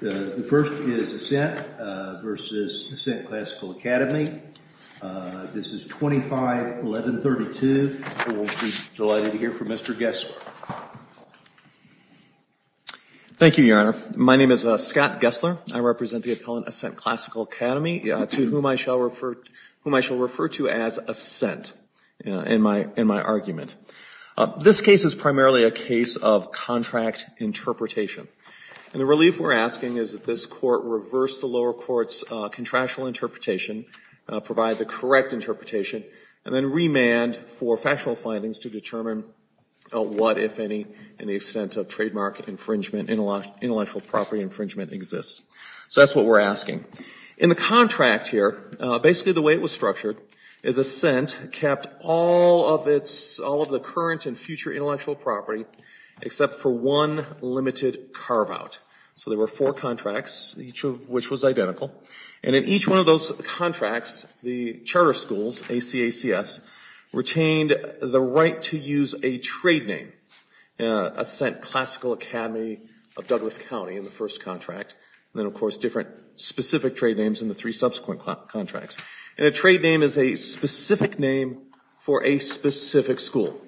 The first is Ascent v. Ascent Classical Academy. This is 25-1132. We'll be delighted to hear from Mr. Gessler. Thank you, Your Honor. My name is Scott Gessler. I represent the Appellant Ascent Classical Academy, to whom I shall refer to as Ascent in my argument. This case is primarily a case of contract interpretation. And the relief we're asking is that this Court reverse the lower court's contractual interpretation, provide the correct interpretation, and then remand for factual findings to determine what, if any, in the extent of trademark infringement, intellectual property infringement exists. So that's what we're asking. In the contract here, basically the way it was structured is Ascent kept all of its, all of the current and future intellectual property except for one limited carve-out. So there were four contracts, each of which was identical. And in each one of those contracts, the charter schools, ACACS, retained the right to use a trade name, Ascent Classical Academy of Douglas County in the first contract, and then, of course, different specific trade names in the three subsequent contracts. And a trade name is a specific name for a specific school.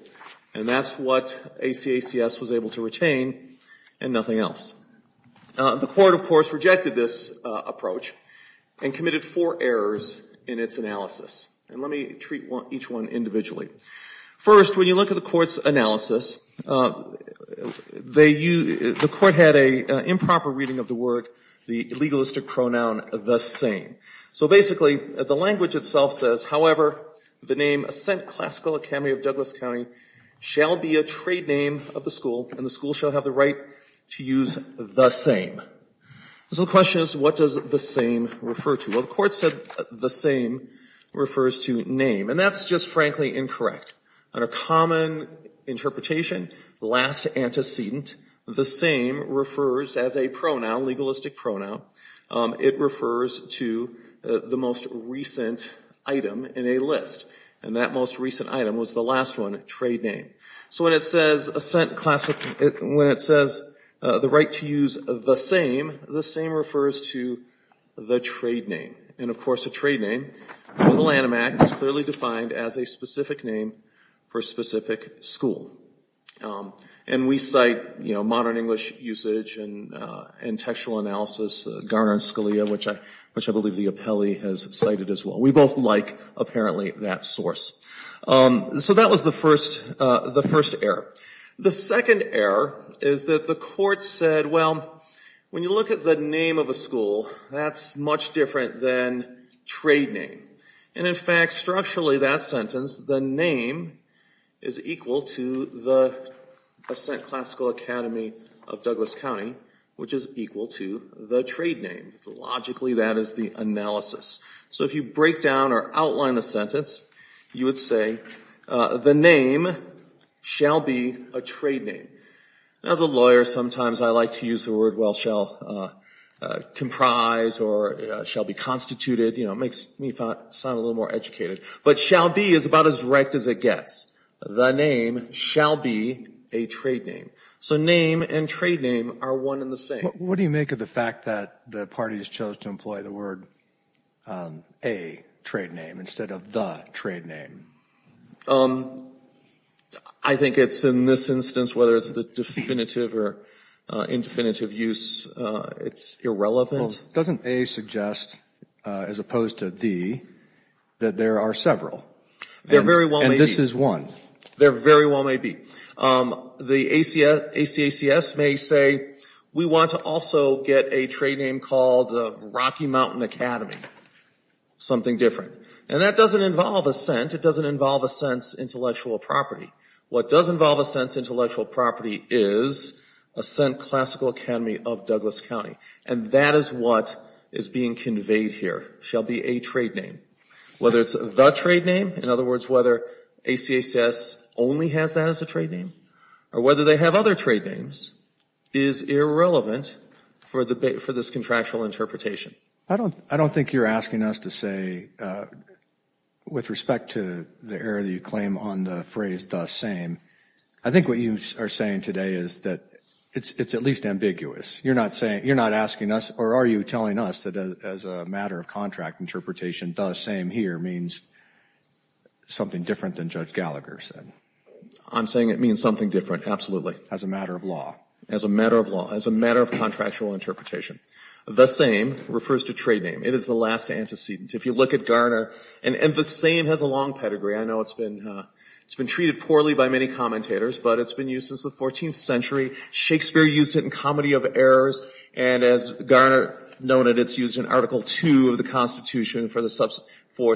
And that's what ACACS was able to retain and nothing else. The Court, of course, rejected this approach and committed four errors in its analysis. And let me treat each one individually. First, when you look at the Court's analysis, the Court had an improper reading of the word, the legalistic pronoun, the same. So basically, the language itself says, however, the name Ascent Classical Academy of Douglas County shall be a trade name of the school, and the school shall have the right to use the same. So the question is, what does the same refer to? Well, the Court said the same refers to name. And that's just, frankly, incorrect. On a common interpretation, last antecedent, the same refers as a pronoun, legalistic pronoun. It refers to the most recent item in a list. And that most recent item was the last one, trade name. So when it says the right to use the same, the same refers to the trade name. And, of course, a trade name in the Lanham Act is clearly defined as a specific name for a specific school. And we cite, you know, modern English usage and textual analysis, Garner and Scalia, which I believe the appellee has cited as well. We both like, apparently, that source. So that was the first error. The second error is that the Court said, well, when you look at the name of a school, that's much different than trade name. And, in fact, structurally, that sentence, the name is equal to the Ascent Classical Academy of Douglas County, which is equal to the trade name. Logically, that is the analysis. So if you break down or outline the sentence, you would say the name shall be a trade name. As a lawyer, sometimes I like to use the word, well, shall comprise or shall be constituted. You know, it makes me sound a little more educated. But shall be is about as direct as it gets. The name shall be a trade name. So name and trade name are one and the same. What do you make of the fact that the parties chose to employ the word a trade name instead of the trade name? I think it's, in this instance, whether it's the definitive or indefinitive use, it's irrelevant. Doesn't a suggest, as opposed to the, that there are several? There very well may be. And this is one. There very well may be. The ACACS may say, we want to also get a trade name called Rocky Mountain Academy. Something different. And that doesn't involve Ascent. It doesn't involve Ascent's intellectual property. What does involve Ascent's intellectual property is Ascent Classical Academy of Douglas County. And that is what is being conveyed here. Shall be a trade name. Whether it's the trade name, in other words, whether ACACS only has that as a trade name, or whether they have other trade names, is irrelevant for this contractual interpretation. I don't think you're asking us to say, with respect to the error that you claim on the phrase the same, I think what you are saying today is that it's at least ambiguous. You're not saying, you're not asking us, or are you telling us that as a matter of contract interpretation, the same here means something different than Judge Gallagher said? I'm saying it means something different, absolutely. As a matter of law. As a matter of law. As a matter of contractual interpretation. The same refers to trade name. It is the last antecedent. If you look at Garner, and the same has a long pedigree. I know it's been treated poorly by many commentators, but it's been used since the 14th century. Shakespeare used it in Comedy of Errors, and as Garner noted, it's used in Article II of the Constitution for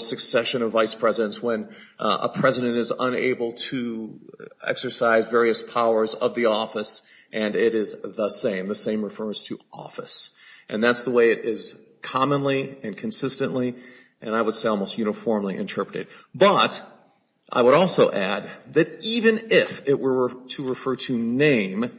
succession of vice presidents when a president is unable to exercise various powers of the office, and it is the same. The same refers to office. And that's the way it is commonly and consistently, and I would say almost uniformly, interpreted. But, I would also add that even if it were to refer to name,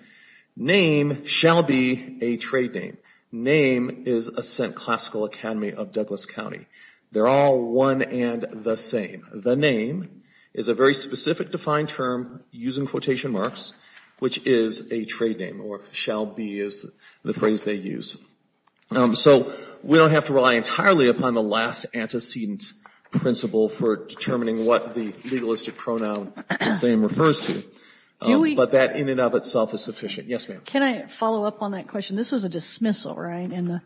name shall be a trade name. Name is a classical academy of Douglas County. They're all one and the same. The name is a very specific defined term, using quotation marks, which is a trade name, or shall be is the phrase they use. So we don't have to rely entirely upon the last antecedent principle for determining what the legalistic pronoun the same refers to. But that in and of itself is sufficient. Yes, ma'am. Can I follow up on that question? This was a dismissal, right? Yes. And the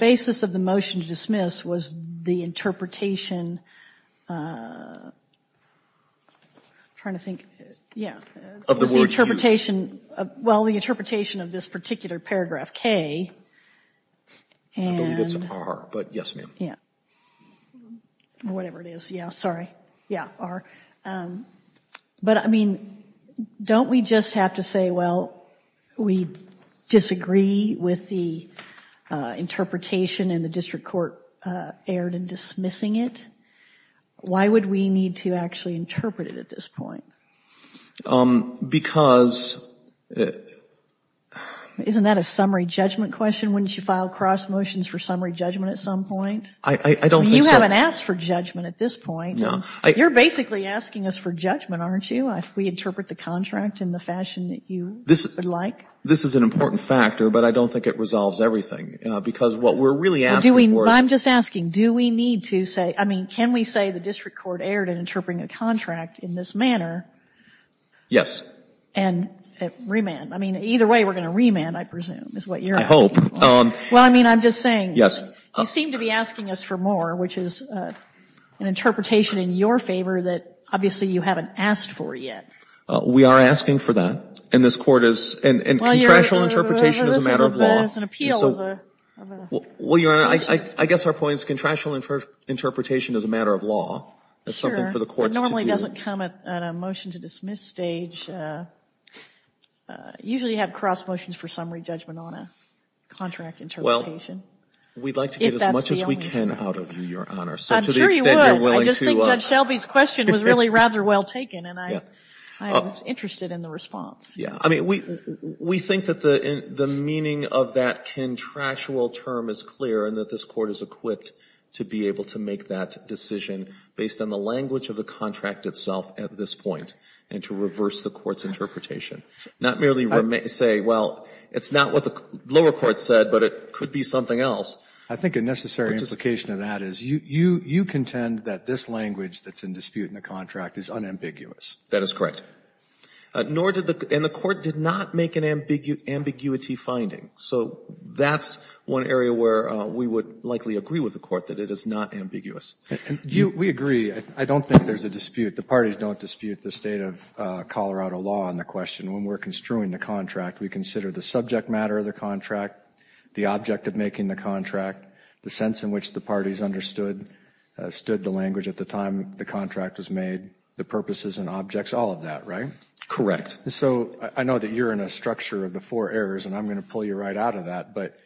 basis of the motion to dismiss was the interpretation of the word use. Well, the interpretation of this particular paragraph K. I believe it's R, but yes, ma'am. Yeah. Whatever it is. Yeah, sorry. Yeah, R. But, I mean, don't we just have to say, well, we disagree with the interpretation and the district court erred in dismissing it? Why would we need to actually interpret it at this point? Because. Isn't that a summary judgment question? Wouldn't you file cross motions for summary judgment at some point? I don't think so. You haven't asked for judgment at this point. No. You're basically asking us for judgment, aren't you? We interpret the contract in the fashion that you would like. This is an important factor, but I don't think it resolves everything. Because what we're really asking for is. I'm just asking, do we need to say, I mean, can we say the district court erred in interpreting a contract in this manner? Yes. And remand. I mean, either way, we're going to remand, I presume, is what you're. I hope. Well, I mean, I'm just saying. Yes. You seem to be asking us for more, which is an interpretation in your favor that, obviously, you haven't asked for yet. We are asking for that. And this Court is. And contractual interpretation is a matter of law. Well, this is an appeal of a. Well, Your Honor, I guess our point is contractual interpretation is a matter of law. Sure. That's something for the courts to do. It normally doesn't come at a motion to dismiss stage. Usually you have cross motions for summary judgment on a contract interpretation. Well, we'd like to get as much as we can out of you, Your Honor. I'm sure you would. So to the extent you're willing to. I just think Judge Shelby's question was really rather well taken, and I was interested in the response. I mean, we think that the meaning of that contractual term is clear and that this Court is equipped to be able to make that decision based on the language of the contract itself at this point and to reverse the Court's interpretation, not merely say, well, it's not what the lower court said, but it could be something else. I think a necessary implication of that is you contend that this language that's in dispute in the contract is unambiguous. That is correct. And the Court did not make an ambiguity finding. So that's one area where we would likely agree with the Court that it is not ambiguous. We agree. I don't think there's a dispute. The parties don't dispute the state of Colorado law on the question. When we're construing the contract, we consider the subject matter of the contract, the object of making the contract, the sense in which the parties understood, stood the language at the time the contract was made, the purposes and objects, all of that, right? Correct. So I know that you're in a structure of the four errors, and I'm going to pull you right out of that. But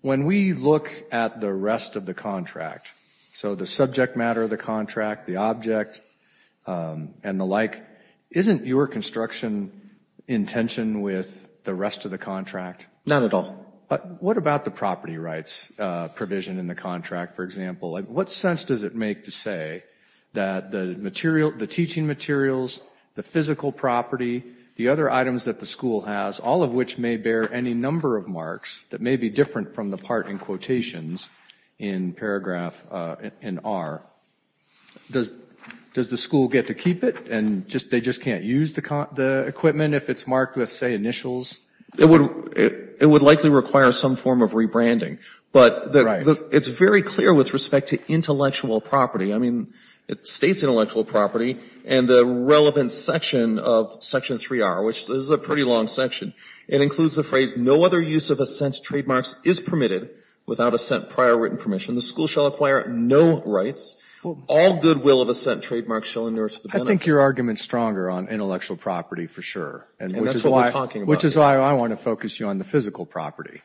when we look at the rest of the contract, so the subject matter of the contract, the object and the like, isn't your construction in tension with the rest of the contract? Not at all. What about the property rights provision in the contract, for example? Like, what sense does it make to say that the teaching materials, the physical property, the other items that the school has, all of which may bear any number of marks that may be different from the part in quotations in paragraph in R, does the school get to keep it, and they just can't use the equipment if it's marked with, say, initials? It would likely require some form of rebranding. Right. It's very clear with respect to intellectual property. I mean, it states intellectual property, and the relevant section of section 3R, which is a pretty long section, it includes the phrase, no other use of assent trademarks is permitted without assent prior written permission. The school shall acquire no rights. All goodwill of assent trademarks shall endure to the benefit. I think your argument is stronger on intellectual property for sure. And that's what we're talking about. Which is why I want to focus you on the physical property.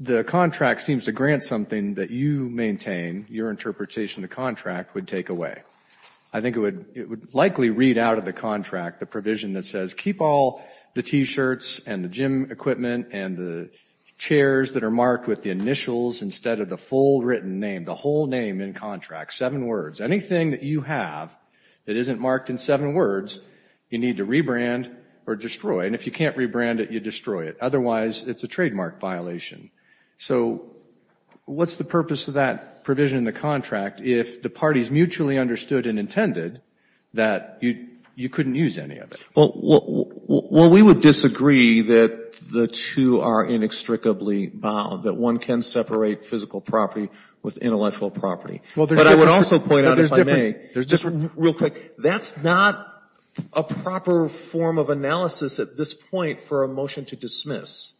The contract seems to grant something that you maintain. Your interpretation of the contract would take away. I think it would likely read out of the contract the provision that says keep all the T-shirts and the gym equipment and the chairs that are marked with the initials instead of the full written name, the whole name in contract, seven words. Anything that you have that isn't marked in seven words, you need to rebrand or destroy. And if you can't rebrand it, you destroy it. Otherwise, it's a trademark violation. So what's the purpose of that provision in the contract if the parties mutually understood and intended that you couldn't use any of it? Well, we would disagree that the two are inextricably bound, that one can separate physical property with intellectual property. But I would also point out, if I may, just real quick, that's not a proper form of this point for a motion to dismiss.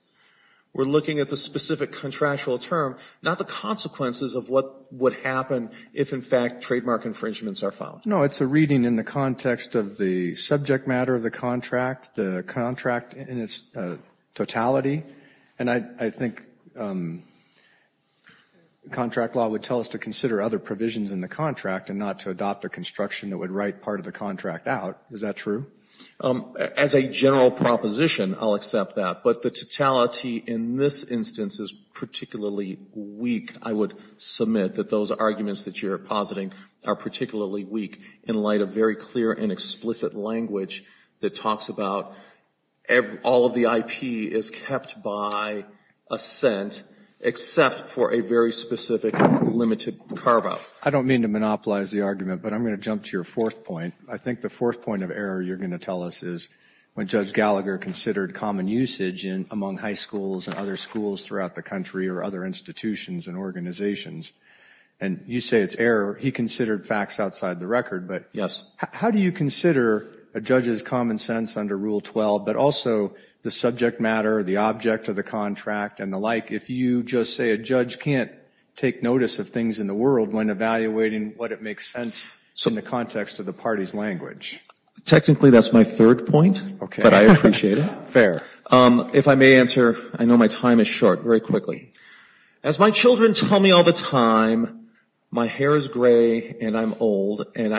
We're looking at the specific contractual term, not the consequences of what would happen if, in fact, trademark infringements are found. No, it's a reading in the context of the subject matter of the contract, the contract in its totality. And I think contract law would tell us to consider other provisions in the contract and not to adopt a construction that would write part of the contract out. Is that true? As a general proposition, I'll accept that. But the totality in this instance is particularly weak, I would submit, that those arguments that you're positing are particularly weak in light of very clear and explicit language that talks about all of the IP is kept by assent except for a very specific limited carve-out. I don't mean to monopolize the argument, but I'm going to jump to your fourth point. I think the fourth point of error you're going to tell us is when Judge Gallagher considered common usage among high schools and other schools throughout the country or other institutions and organizations, and you say it's error. He considered facts outside the record. But how do you consider a judge's common sense under Rule 12, but also the subject matter, the object of the contract and the like, if you just say a judge can't take notice of things in the world when evaluating what it makes sense in the context of the party's language? Technically, that's my third point. Okay. But I appreciate it. Fair. If I may answer. I know my time is short. Very quickly. As my children tell me all the time, my hair is gray and I'm old and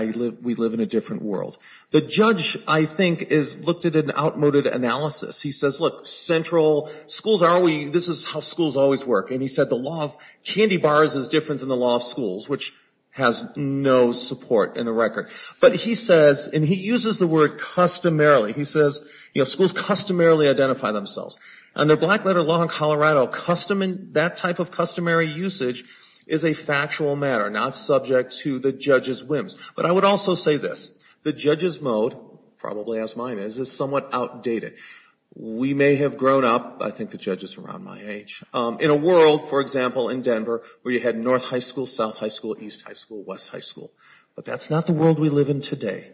we live in a different world. The judge, I think, has looked at an outmoded analysis. He says, look, central, schools are always, this is how schools always work. And he said the law of candy bars is different than the law of schools, which has no support in the record. But he says, and he uses the word customarily. He says, you know, schools customarily identify themselves. Under black letter law in Colorado, that type of customary usage is a factual matter, not subject to the judge's whims. But I would also say this. The judge's mode, probably as mine is, is somewhat outdated. We may have grown up, I think the judge is around my age, in a world, for example, in Denver, where you had North High School, South High School, East High School, West High School. But that's not the world we live in today.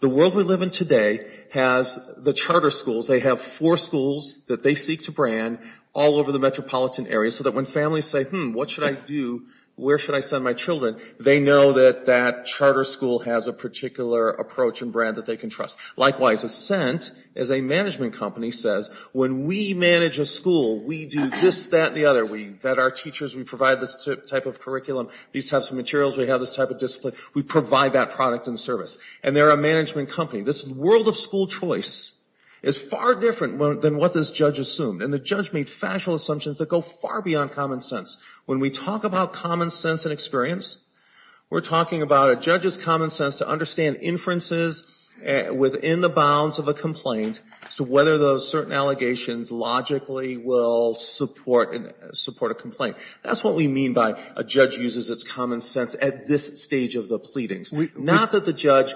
The world we live in today has the charter schools, they have four schools that they seek to brand all over the metropolitan area so that when families say, hmm, what should I do, where should I send my children, they know that that charter school has a particular approach and brand that they can trust. Likewise, Ascent, as a management company, says, when we manage a school, we do this, that, and the other. We vet our teachers, we provide this type of curriculum, these types of materials, we have this type of discipline, we provide that product and service. And they're a management company. This world of school choice is far different than what this judge assumed. And the judge made factual assumptions that go far beyond common sense. When we talk about common sense and experience, we're talking about a judge's common sense to understand inferences within the bounds of a complaint as to whether those certain allegations logically will support a complaint. That's what we mean by a judge uses its common sense at this stage of the pleadings. Not that the judge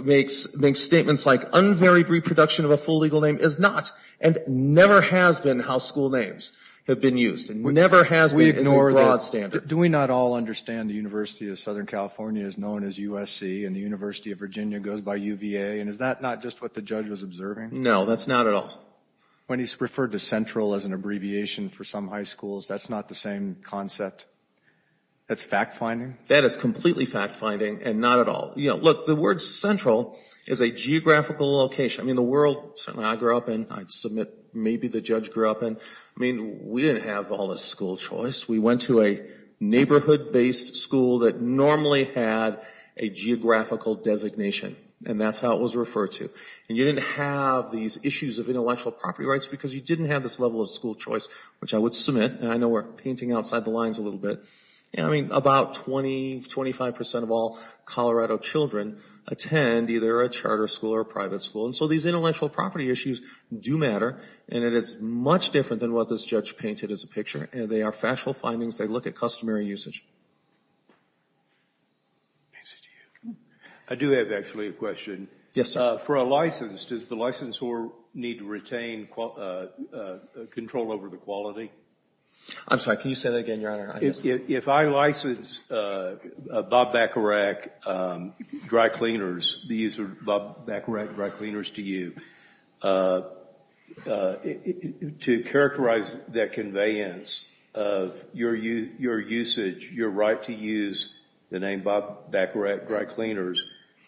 makes statements like unvaried reproduction of a full legal name is not and never has been how school names have been used and never has been as a broad standard. Do we not all understand the University of Southern California is known as USC and the University of Virginia goes by UVA? And is that not just what the judge was observing? No, that's not at all. When he's referred to central as an abbreviation for some high schools, that's not the same concept? That's fact-finding? That is completely fact-finding and not at all. Look, the word central is a geographical location. I mean, the world certainly I grew up in, I submit maybe the judge grew up in, I mean, we didn't have all this school choice. We went to a neighborhood-based school that normally had a geographical designation. And that's how it was referred to. And you didn't have these issues of intellectual property rights because you didn't have this level of school choice, which I would submit. And I know we're painting outside the lines a little bit. I mean, about 20, 25 percent of all Colorado children attend either a charter school or a private school. And so these intellectual property issues do matter. And it is much different than what this judge painted as a picture. They are factual findings. They look at customary usage. I do have actually a question. Yes, sir. For a license, does the licensor need to retain control over the quality? I'm sorry. Can you say that again, Your Honor? If I license Bob Bacharach dry cleaners, the use of Bob Bacharach dry cleaners to you, to characterize that conveyance of your usage, your right to use the name Bob Bacharach dry cleaners,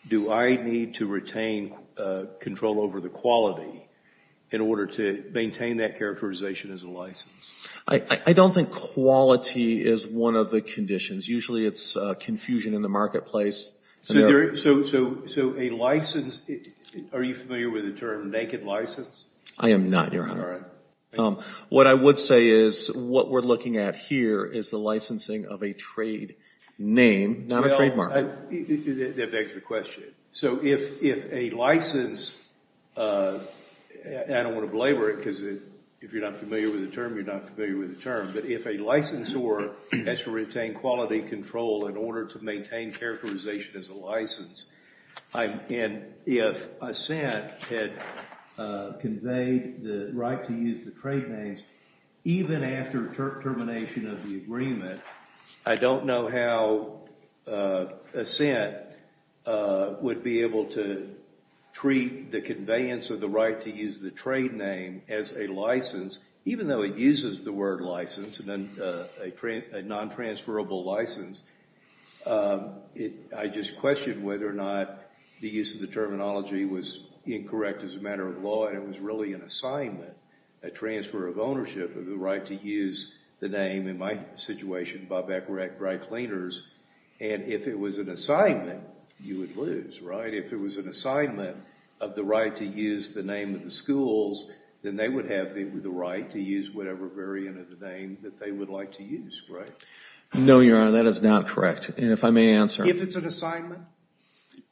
do I need to retain control over the quality in order to maintain that characterization as a license? I don't think quality is one of the conditions. Usually it's confusion in the marketplace. So a license, are you familiar with the term naked license? I am not, Your Honor. All right. What I would say is what we're looking at here is the licensing of a trade name, not a trademark. That begs the question. So if a license, I don't want to belabor it because if you're not familiar with the term, you're not familiar with the term. But if a licensor has to retain quality control in order to maintain characterization as a license, and if a cent had conveyed the right to use the trade names, even after termination of the agreement, I don't know how a cent would be able to treat the conveyance of the right to use the trade name as a license, even though it uses the word license and then a non-transferable license. I just question whether or not the use of the terminology was incorrect as a matter of law, but it was really an assignment, a transfer of ownership of the right to use the name. In my situation, Bob Ecker at Dry Cleaners, and if it was an assignment, you would lose, right? If it was an assignment of the right to use the name of the schools, then they would have the right to use whatever variant of the name that they would like to use, right? No, Your Honor. That is not correct. And if I may answer. If it's an assignment?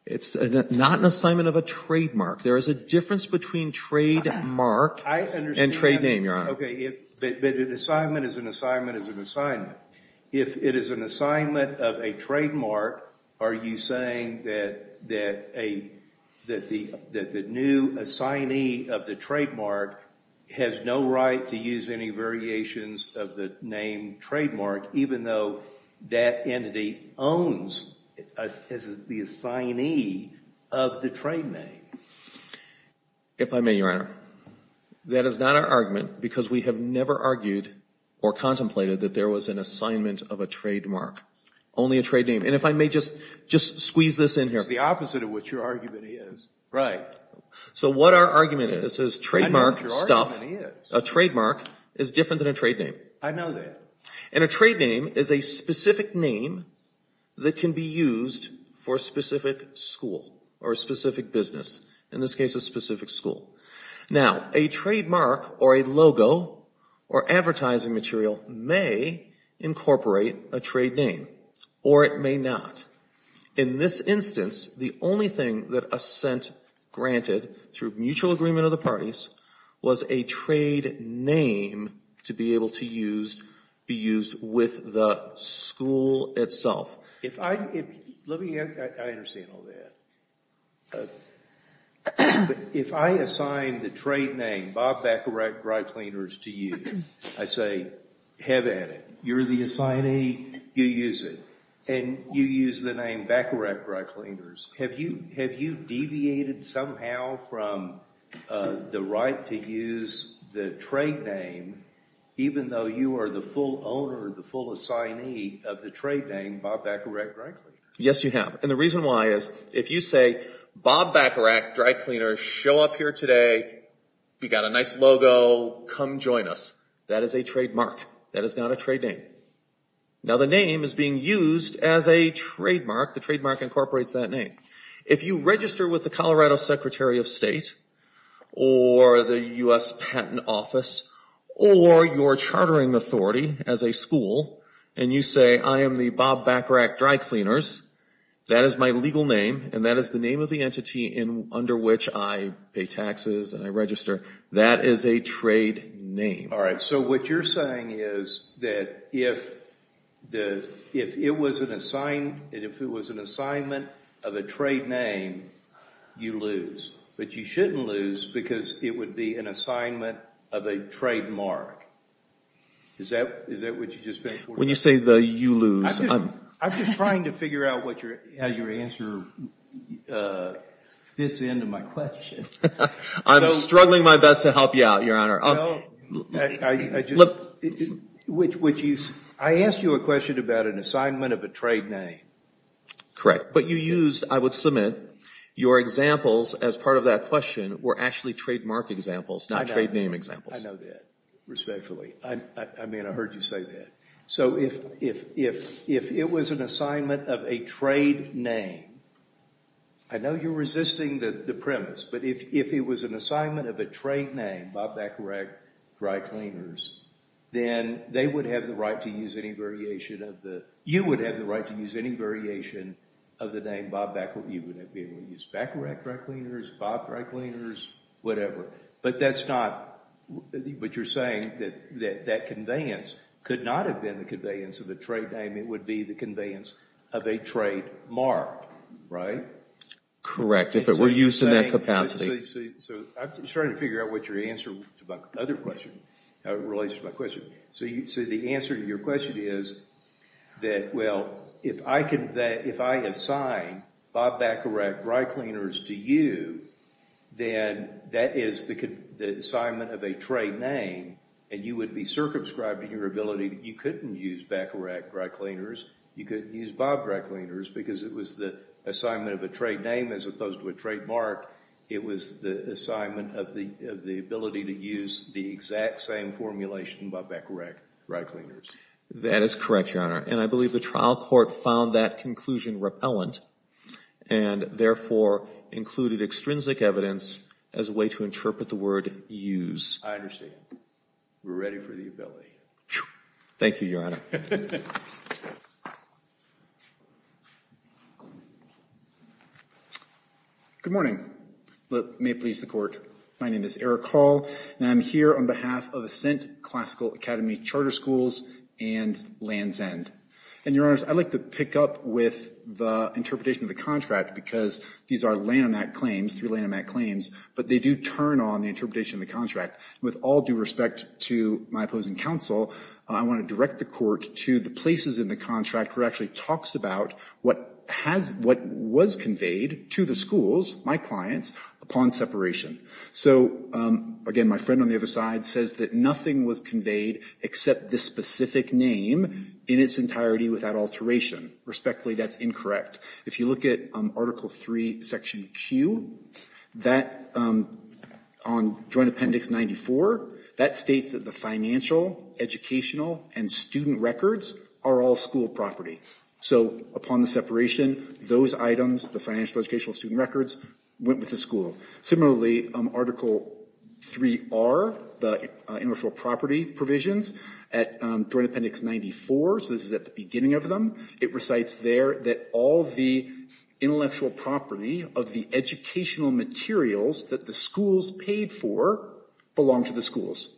It's not an assignment of a trademark. There is a difference between trademark and trade name, Your Honor. Okay, but an assignment is an assignment is an assignment. If it is an assignment of a trademark, are you saying that the new assignee of the trademark has no right to use any variations of the name trademark, even though that entity owns as the assignee of the trade name? If I may, Your Honor. That is not our argument because we have never argued or contemplated that there was an assignment of a trademark, only a trade name. And if I may just squeeze this in here. It's the opposite of what your argument is. Right. So what our argument is, is trademark stuff. I know what your argument is. A trademark is different than a trade name. I know that. And a trade name is a specific name that can be used for a specific school or a specific business. In this case, a specific school. Now, a trademark or a logo or advertising material may incorporate a trade name or it may not. In this instance, the only thing that assent granted through mutual agreement of the parties was a trade name to be able to use, be used with the school itself. If I, let me, I understand all that. But if I assign the trade name Bob Baccarat Dry Cleaners to you, I say have at it. You're the assignee. You use it. And you use the name Baccarat Dry Cleaners. Have you deviated somehow from the right to use the trade name even though you are the full owner, the full assignee of the trade name Bob Baccarat Dry Cleaners? Yes, you have. And the reason why is if you say Bob Baccarat Dry Cleaners, show up here today. We got a nice logo. Come join us. That is a trademark. That is not a trade name. Now, the name is being used as a trademark. The trademark incorporates that name. If you register with the Colorado Secretary of State or the U.S. Patent Office or your chartering authority as a school and you say I am the Bob Baccarat Dry Cleaners, that is my legal name and that is the name of the entity under which I pay taxes and I register, that is a trade name. All right, so what you're saying is that if it was an assignment of a trade name, you lose. But you shouldn't lose because it would be an assignment of a trademark. Is that what you just meant? When you say the you lose. I'm just trying to figure out how your answer fits into my question. I'm struggling my best to help you out, Your Honor. I asked you a question about an assignment of a trade name. Correct. But you used, I would submit, your examples as part of that question were actually trademark examples, not trade name examples. I know that respectfully. I mean, I heard you say that. So if it was an assignment of a trade name, I know you're resisting the premise, but if it was an assignment of a trade name, Bob Baccarat Dry Cleaners, then they would have the right to use any variation of the, you would have the right to use any variation of the name Bob Baccarat. You would be able to use Baccarat Dry Cleaners, Bob Dry Cleaners, whatever. But that's not, but you're saying that that conveyance could not have been the conveyance of the trade name. It would be the conveyance of a trademark, right? Correct. If it were used in that capacity. I'm starting to figure out what your answer to my other question relates to my question. So the answer to your question is that, well, if I assign Bob Baccarat Dry Cleaners to you, then that is the assignment of a trade name, and you would be circumscribed in your ability. You couldn't use Baccarat Dry Cleaners. You could use Bob Dry Cleaners because it was the assignment of a trade name as opposed to a trademark. It was the assignment of the ability to use the exact same formulation by Baccarat Dry Cleaners. That is correct, Your Honor. And I believe the trial court found that conclusion repellent and therefore included extrinsic evidence as a way to interpret the word use. I understand. We're ready for the ability. Thank you, Your Honor. Good morning. May it please the court. My name is Eric Hall, and I'm here on behalf of Ascent Classical Academy Charter Schools and Land's End. And, Your Honor, I'd like to pick up with the interpretation of the contract because these are Lanham Act claims, three Lanham Act claims, but they do turn on the interpretation of the contract. With all due respect to my opposing counsel, I want to direct the court to the places in the contract where it actually talks about what has – what was conveyed to the schools, my clients, upon separation. So, again, my friend on the other side says that nothing was conveyed except the specific name in its entirety without alteration. Respectfully, that's incorrect. In fact, if you look at Article 3, Section Q, that – on Joint Appendix 94, that states that the financial, educational, and student records are all school property. So, upon the separation, those items, the financial, educational, student records, went with the school. Similarly, Article 3R, the intellectual property provisions, at Joint Appendix 94, so this is at the beginning of them, it recites there that all the intellectual property of the educational materials that the schools paid for belonged to the schools.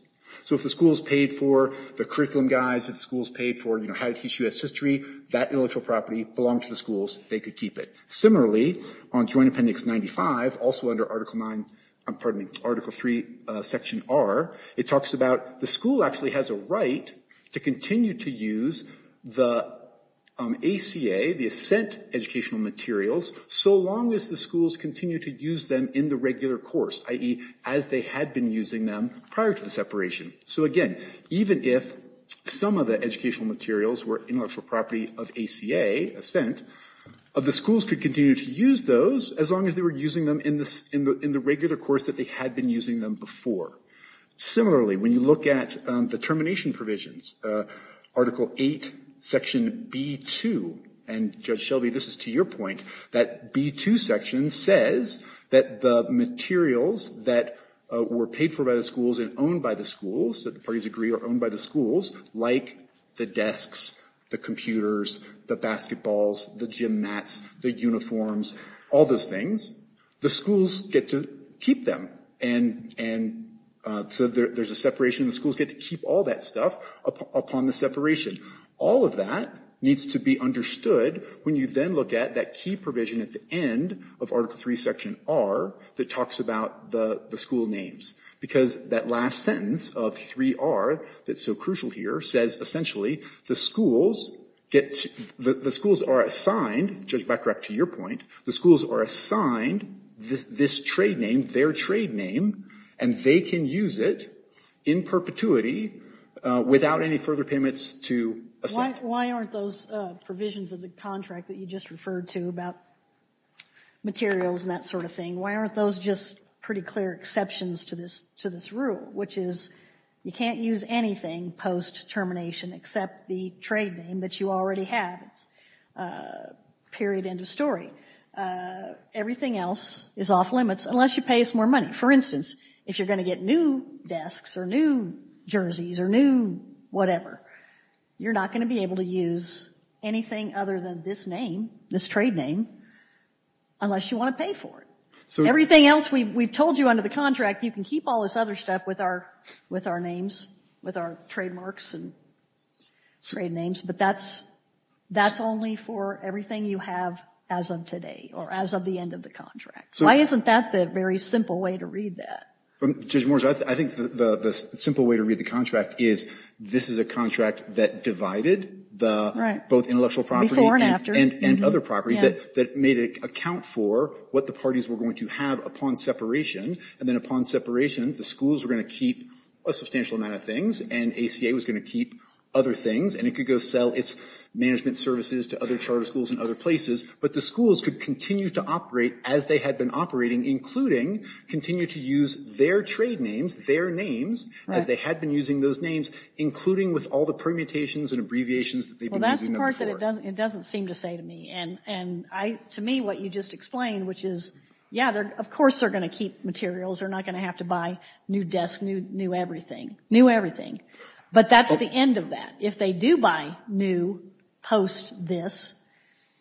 So if the schools paid for the curriculum guides, if the schools paid for, you know, how to teach U.S. history, that intellectual property belonged to the schools. They could keep it. Similarly, on Joint Appendix 95, also under Article 9 – pardon me, Article 3, Section R, it talks about the school actually has a right to continue to use the ACA, the assent educational materials, so long as the schools continue to use them in the regular course, i.e., as they had been using them prior to the separation. So, again, even if some of the educational materials were intellectual property of ACA, assent, the schools could continue to use those as long as they were using them in the regular course that they had been using them before. Similarly, when you look at the termination provisions, Article 8, Section B2, and, Judge Shelby, this is to your point, that B2 section says that the materials that were paid for by the schools and owned by the schools, that the parties agree are owned by the schools, like the desks, the computers, the basketballs, the gym mats, the uniforms, all those things, the schools get to keep them. And so there's a separation. The schools get to keep all that stuff upon the separation. All of that needs to be understood when you then look at that key provision at the end of Article 3, Section R, that talks about the school names. Because that last sentence of 3R that's so crucial here says, essentially, the schools get to, the schools are assigned, Judge Becker, to your point, the schools are assigned this trade name, their trade name, and they can use it in perpetuity without any further payments to assent. Why aren't those provisions of the contract that you just referred to about materials and that sort of thing, why aren't those just pretty clear exceptions to this rule? Which is, you can't use anything post-termination except the trade name that you already have, period, end of story. Everything else is off limits unless you pay us more money. For instance, if you're going to get new desks or new jerseys or new whatever, you're not going to be able to use anything other than this name, this trade name, unless you want to pay for it. Everything else we've told you under the contract, you can keep all this other stuff with our names, with our trademarks and trade names, but that's only for everything you have as of today or as of the end of the contract. Why isn't that the very simple way to read that? Judge Moore, I think the simple way to read the contract is this is a contract that divided both intellectual property and other property that made it account for what the parties were going to have upon separation. And then upon separation, the schools were going to keep a substantial amount of things, and ACA was going to keep other things, and it could go sell its management services to other charter schools in other places. But the schools could continue to operate as they had been operating, including continue to use their trade names, their names, as they had been using those names, including with all the permutations and abbreviations that they've been using them for. Well, that's the part that it doesn't seem to say to me. And to me, what you just explained, which is, yeah, of course they're going to keep materials. They're not going to have to buy new desks, new everything. New everything. But that's the end of that. If they do buy new post this,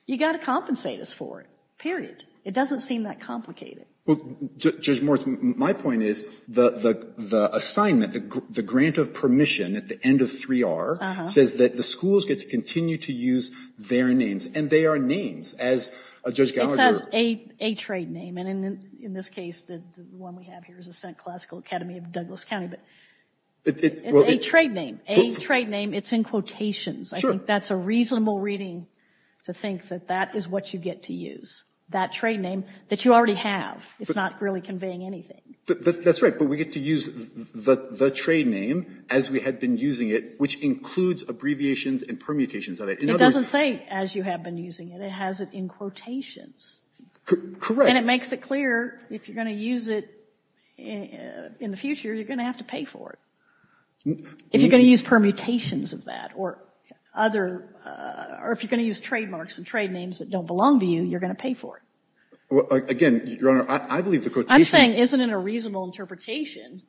you've got to compensate us for it, period. It doesn't seem that complicated. Well, Judge Moore, my point is the assignment, the grant of permission at the end of 3R says that the schools get to continue to use their names. And they are names. As Judge Gallagher— It says a trade name. And in this case, the one we have here is the Central Classical Academy of Douglas County. It's a trade name. A trade name. It's in quotations. I think that's a reasonable reading to think that that is what you get to use, that trade name that you already have. It's not really conveying anything. That's right. But we get to use the trade name as we had been using it, which includes abbreviations and permutations. It doesn't say as you have been using it. It has it in quotations. Correct. And it makes it clear if you're going to use it in the future, you're going to have to pay for it. If you're going to use permutations of that or other, or if you're going to use trademarks and trade names that don't belong to you, you're going to pay for it. Again, Your Honor, I believe the quotation— I'm saying isn't it a reasonable interpretation,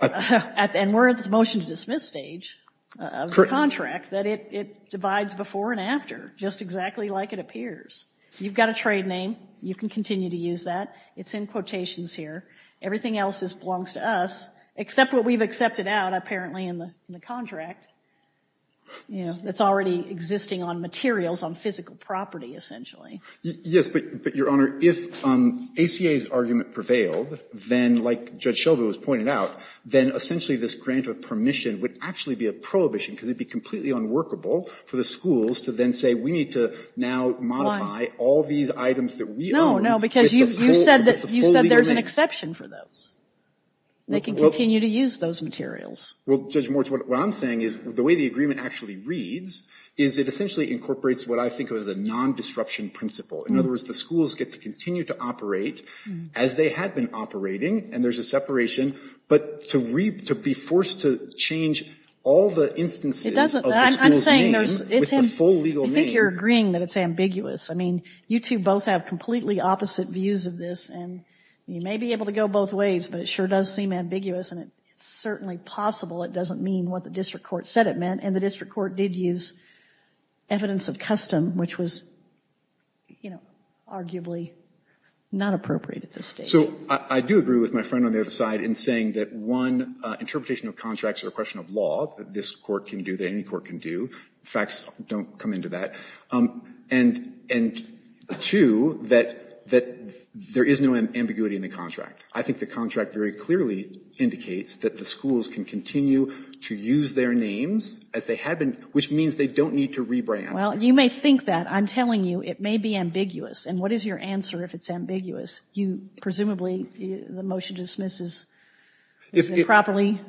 and we're at the motion to dismiss stage of the contract, that it divides before and after just exactly like it appears. You've got a trade name. You can continue to use that. It's in quotations here. Everything else belongs to us, except what we've accepted out, apparently, in the contract. It's already existing on materials, on physical property, essentially. Yes, but, Your Honor, if ACA's argument prevailed, then, like Judge Shelby was pointing out, then essentially this grant of permission would actually be a prohibition because it would be completely unworkable for the schools to then say we need to now modify all these items that we own. No, because you said there's an exception for those. They can continue to use those materials. Well, Judge Moritz, what I'm saying is the way the agreement actually reads is it essentially incorporates what I think of as a non-disruption principle. In other words, the schools get to continue to operate as they had been operating, and there's a separation. But to be forced to change all the instances of the school's name with the full legal name— I think you're agreeing that it's ambiguous. I mean, you two both have completely opposite views of this, and you may be able to go both ways, but it sure does seem ambiguous, and it's certainly possible it doesn't mean what the district court said it meant, and the district court did use evidence of custom, which was, you know, arguably not appropriate at this stage. So I do agree with my friend on the other side in saying that, one, interpretation of contracts is a question of law, that this court can do, that any court can do. Facts don't come into that. And, two, that there is no ambiguity in the contract. I think the contract very clearly indicates that the schools can continue to use their names as they had been, which means they don't need to rebrand. Well, you may think that. I'm telling you it may be ambiguous. And what is your answer if it's ambiguous? You presumably, the motion dismisses improperly.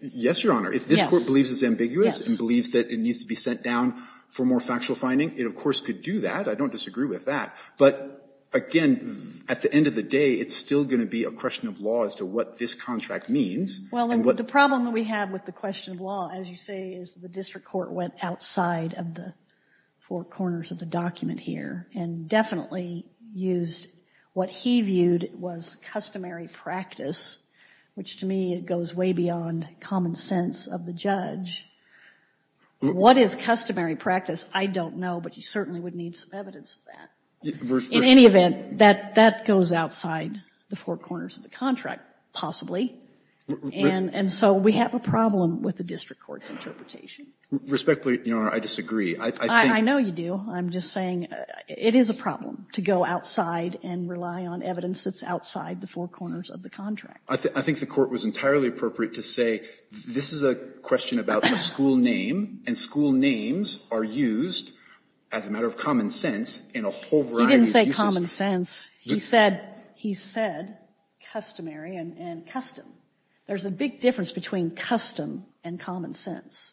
Yes, Your Honor. If this court believes it's ambiguous and believes that it needs to be sent down for more factual finding, it of course could do that. I don't disagree with that. But, again, at the end of the day, it's still going to be a question of law as to what this contract means. Well, the problem that we have with the question of law, as you say, is the district court went outside of the four corners of the document here and definitely used what he viewed was customary practice, which to me goes way beyond common sense of the judge. What is customary practice? I don't know. But you certainly would need some evidence of that. In any event, that goes outside the four corners of the contract, possibly. And so we have a problem with the district court's interpretation. Respectfully, Your Honor, I disagree. I know you do. I'm just saying it is a problem to go outside and rely on evidence that's outside the four corners of the contract. I think the Court was entirely appropriate to say this is a question about a school name, and school names are used as a matter of common sense in a whole variety of uses. You didn't say common sense. You said he said customary and custom. There's a big difference between custom and common sense.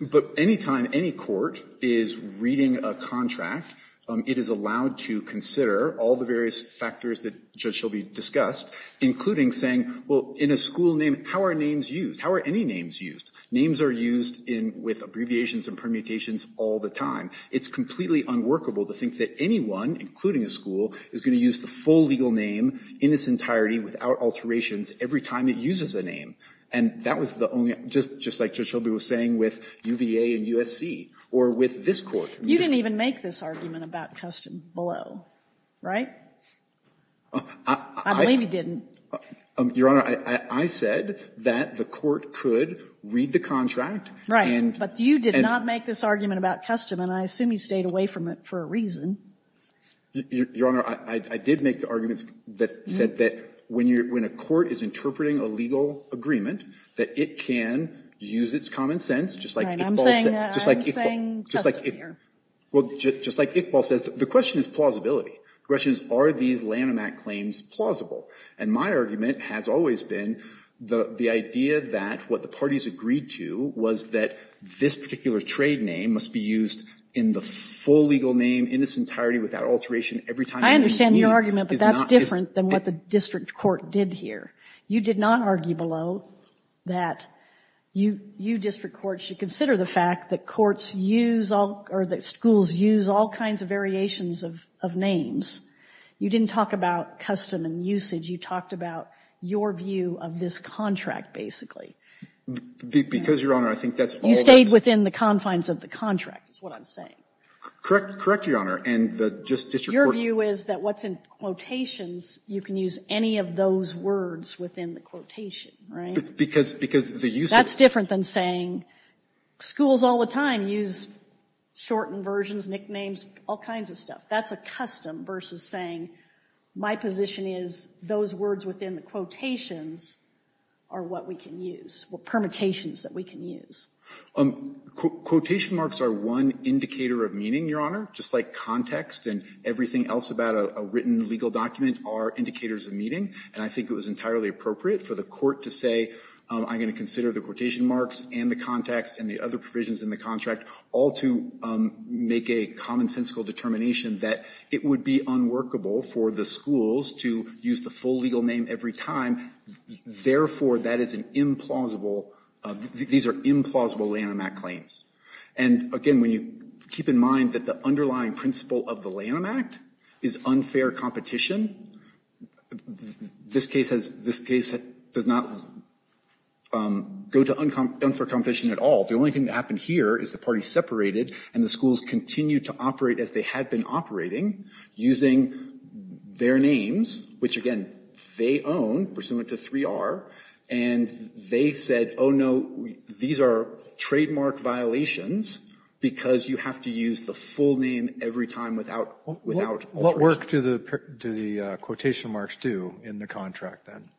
But any time any court is reading a contract, it is allowed to consider all the various factors that Judge Shelby discussed, including saying, well, in a school name, how are names used? How are any names used? Names are used with abbreviations and permutations all the time. It's completely unworkable to think that anyone, including a school, is going to use the full legal name in its entirety without alterations every time it uses a name. And that was the only, just like Judge Shelby was saying with UVA and USC, or with this Court. You didn't even make this argument about custom below, right? I believe you didn't. Your Honor, I said that the Court could read the contract and Right, but you did not make this argument about custom, and I assume you stayed away from it for a reason. Your Honor, I did make the arguments that said that when a court is interpreting a legal agreement, that it can use its common sense, just like I'm saying custom here. Well, just like Iqbal says, the question is plausibility. The question is, are these Lanham Act claims plausible? And my argument has always been the idea that what the parties agreed to was that this particular trade name must be used in the full legal name in its entirety without alteration every time it uses a name. I understand your argument, but that's different than what the district court did here. You did not argue below that you district courts should consider the fact that courts use all, or that schools use all kinds of variations of names. You didn't talk about custom and usage. You talked about your view of this contract, basically. Because, Your Honor, I think that's all that's You stayed within the confines of the contract, is what I'm saying. Correct, Your Honor. And the district court Your view is that what's in quotations, you can use any of those words within the quotation, right? Because the usage That's different than saying schools all the time use shortened versions, nicknames, all kinds of stuff. That's a custom versus saying my position is those words within the quotations are what we can use, what permutations that we can use. Quotation marks are one indicator of meaning, Your Honor. Just like context and everything else about a written legal document are indicators of meaning, and I think it was entirely appropriate for the court to say, I'm going to consider the quotation marks and the context and the other provisions in the contract all to make a commonsensical determination that it would be unworkable for the schools to use the full legal name every time. Therefore, that is an implausible, these are implausible Lanham Act claims. And, again, when you keep in mind that the underlying principle of the Lanham Act is unfair competition, this case does not go to unfair competition at all. The only thing that happened here is the parties separated and the schools continued to operate as they had been operating using their names, which, again, they own, pursuant to 3R, and they said, oh, no, these are trademark violations because you have to use the full name every time without questions. What work do the quotation marks do in the contract, then?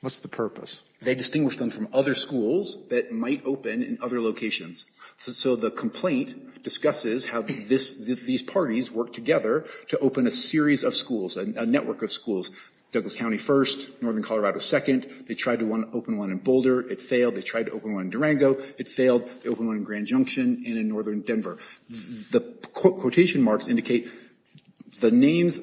What's the purpose? They distinguish them from other schools that might open in other locations. So the complaint discusses how these parties worked together to open a series of schools, a network of schools. Douglas County first, Northern Colorado second. They tried to open one in Boulder. It failed. They tried to open one in Durango. It failed. They opened one in Grand Junction and in Northern Denver. The quotation marks indicate the names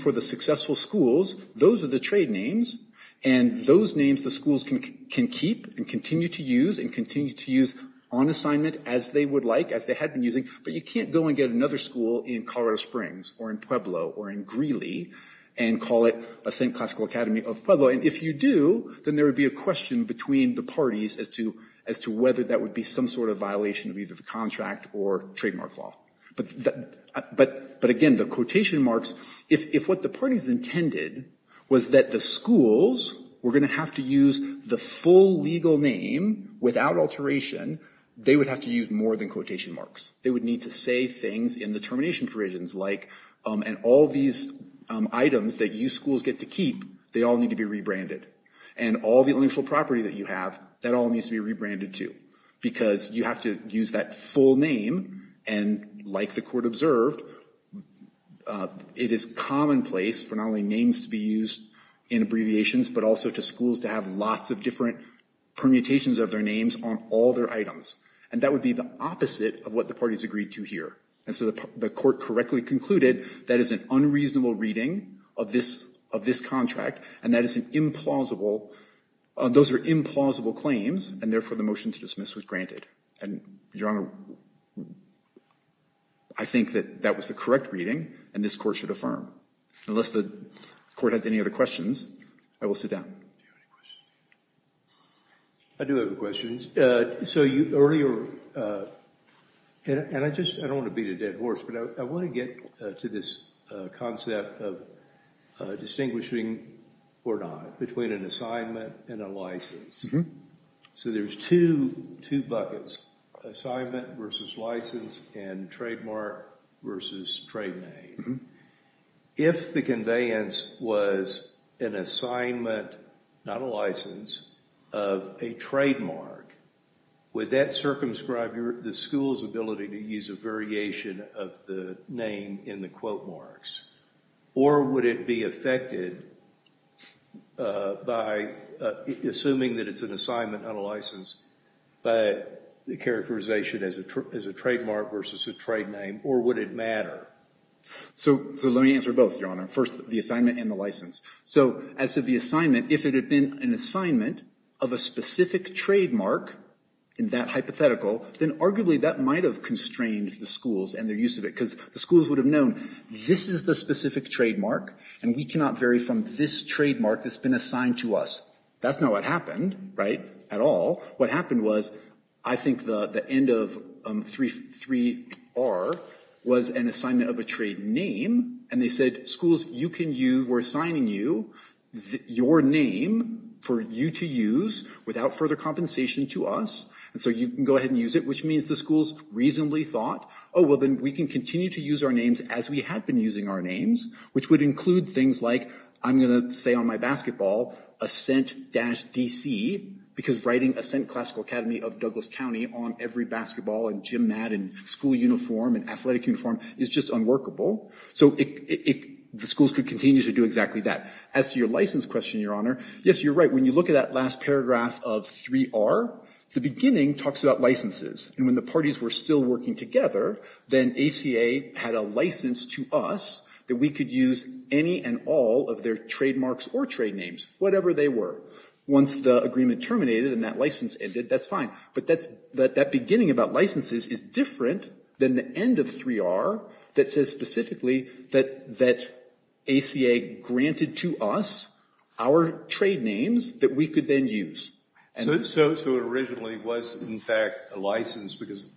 for the successful schools. Those are the trade names. And those names the schools can keep and continue to use and continue to use on assignment as they would like, as they had been using. But you can't go and get another school in Colorado Springs or in Pueblo or in Greeley and call it a Saint Classical Academy of Pueblo. And if you do, then there would be a question between the parties as to whether that would be some sort of violation of either the contract or trademark law. But again, the quotation marks, if what the parties intended was that the schools were going to have to use the full legal name without alteration, they would have to use more than quotation marks. They would need to say things in the termination provisions like, and all these items that you schools get to keep, they all need to be rebranded. And all the intellectual property that you have, that all needs to be rebranded too, because you have to use that full name. And like the court observed, it is commonplace for not only names to be used in abbreviations, but also to schools to have lots of different permutations of their names on all their items. And that would be the opposite of what the parties agreed to here. And so the court correctly concluded that is an unreasonable reading of this contract, and that is an implausible, those are implausible claims, and therefore the motion to dismiss was granted. And Your Honor, I think that that was the correct reading, and this Court should affirm. Unless the Court has any other questions, I will sit down. Do you have any questions? I do have questions. So you earlier, and I just, I don't want to beat a dead horse, but I want to get to this concept of distinguishing or not, between an assignment and a license. So there's two buckets, assignment versus license, and trademark versus trade name. If the conveyance was an assignment, not a license, of a trademark, would that be affected by, assuming that it's an assignment, not a license, by the characterization as a trademark versus a trade name, or would it matter? So let me answer both, Your Honor. First, the assignment and the license. So as to the assignment, if it had been an assignment of a specific trademark, in that hypothetical, then arguably that might have constrained the schools and their use of it, because the schools would have known, this is the specific trademark, and we cannot vary from this trademark that's been assigned to us. That's not what happened, right, at all. What happened was, I think the end of 3R was an assignment of a trade name, and they said, schools, you can use, we're assigning you your name for you to use without further compensation to us, and so you can go ahead and use it, which means the schools reasonably thought, oh, well, then we can continue to use our names as we have been using our names, which would include things like, I'm going to say on my basketball, Ascent-DC, because writing Ascent Classical Academy of Douglas County on every basketball and gym mat and school uniform and athletic uniform is just unworkable. So the schools could continue to do exactly that. As to your license question, Your Honor, yes, you're right. When you look at that last paragraph of 3R, the beginning talks about licenses, and when the parties were still working together, then ACA had a license to us that we could use any and all of their trademarks or trade names, whatever they were. Once the agreement terminated and that license ended, that's fine. But that beginning about licenses is different than the end of 3R that says specifically that ACA granted to us our trade names that we could then use. So it originally was, in fact, a license because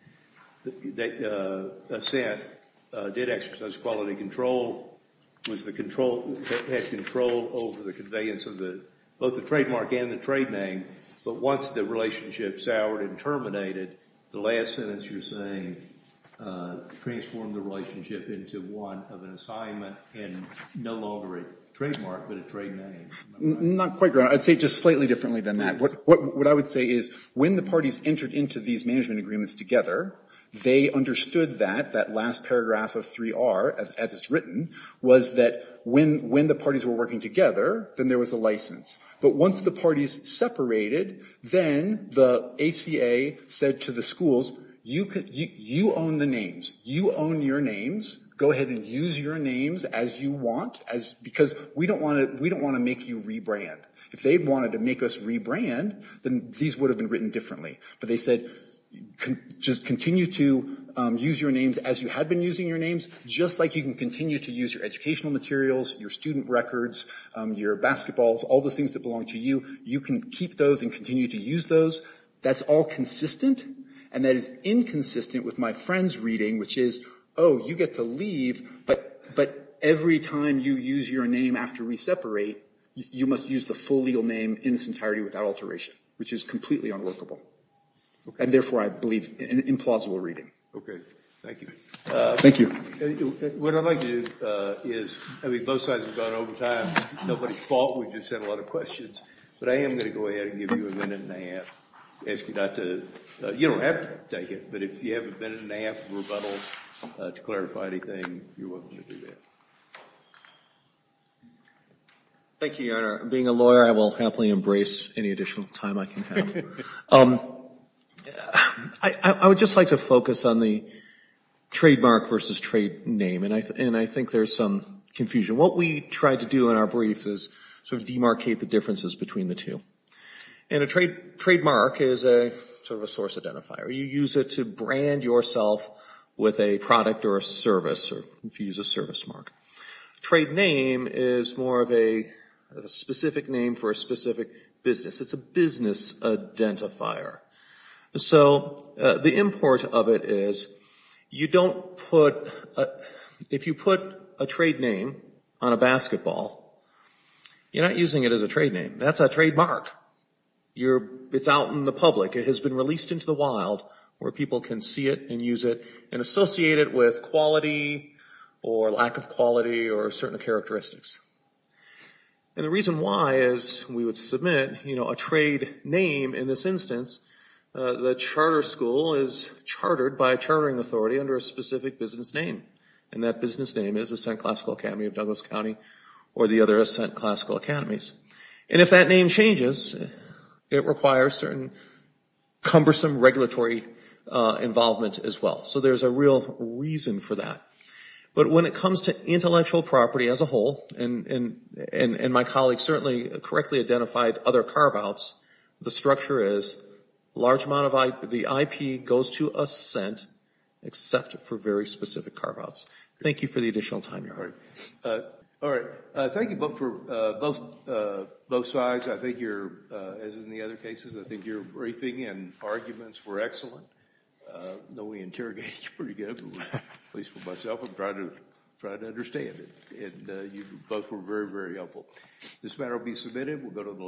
Ascent did exercise quality control, had control over the conveyance of both the trademark and the trade name, but once the relationship soured and terminated, the last sentence you're saying transformed the relationship into one of an assignment and no longer a trademark, but a trade name. Not quite, Your Honor. I'd say just slightly differently than that. What I would say is when the parties entered into these management agreements together, they understood that, that last paragraph of 3R, as it's written, was that when the parties were working together, then there was a license. But once the parties separated, then the ACA said to the schools, you own the names. You own your names. Go ahead and use your names as you want, because we don't want to make you rebrand. If they wanted to make us rebrand, then these would have been written differently. But they said, just continue to use your names as you have been using your names, just like you can continue to use your educational materials, your student records, your basketballs, all the things that belong to you. You can keep those and continue to use those. That's all consistent, and that is inconsistent with my friends' reading, which is, oh, you get to leave, but every time you use your name after we separate, you must use the full legal name in its entirety without alteration, which is completely unworkable. And therefore, I believe, an implausible reading. Okay. Thank you. Thank you. What I'd like to do is, I mean, both sides have gone over time. Nobody fought. We just had a lot of questions. But I am going to go ahead and give you a minute and a half, ask you not to, you don't have to take it. But if you have a minute and a half of rebuttal to clarify anything, you're welcome to do that. Thank you, Your Honor. Being a lawyer, I will happily embrace any additional time I can have. I would just like to focus on the trademark versus trade name, and I think there's some confusion. What we tried to do in our brief is sort of demarcate the differences between the two. And a trademark is sort of a source identifier. You use it to brand yourself with a product or a service, or if you use a service mark. Trade name is more of a specific name for a specific business. It's a business identifier. So the import of it is you don't put, if you put a trade name on a basketball, you're not using it as a trade name. That's a trademark. It's out in the public. It has been released into the wild where people can see it and use it and associate it with quality or lack of quality or certain characteristics. And the reason why is we would submit, you know, a trade name in this instance. The charter school is chartered by a chartering authority under a specific business name, and that business name is Ascent Classical Academy of Douglas County or the other Ascent Classical Academies. And if that name changes, it requires certain cumbersome regulatory involvement as well. So there's a real reason for that. But when it comes to intellectual property as a whole, and my colleagues certainly correctly identified other carve-outs, the structure is large amount of the IP goes to Ascent except for very specific carve-outs. Thank you for the additional time, Your Honor. All right. Thank you both for both sides. I think you're, as in the other cases, I think your briefing and arguments were excellent. I know we interrogated you pretty good, at least for myself. I'm trying to understand it. And you both were very, very helpful. This matter will be submitted.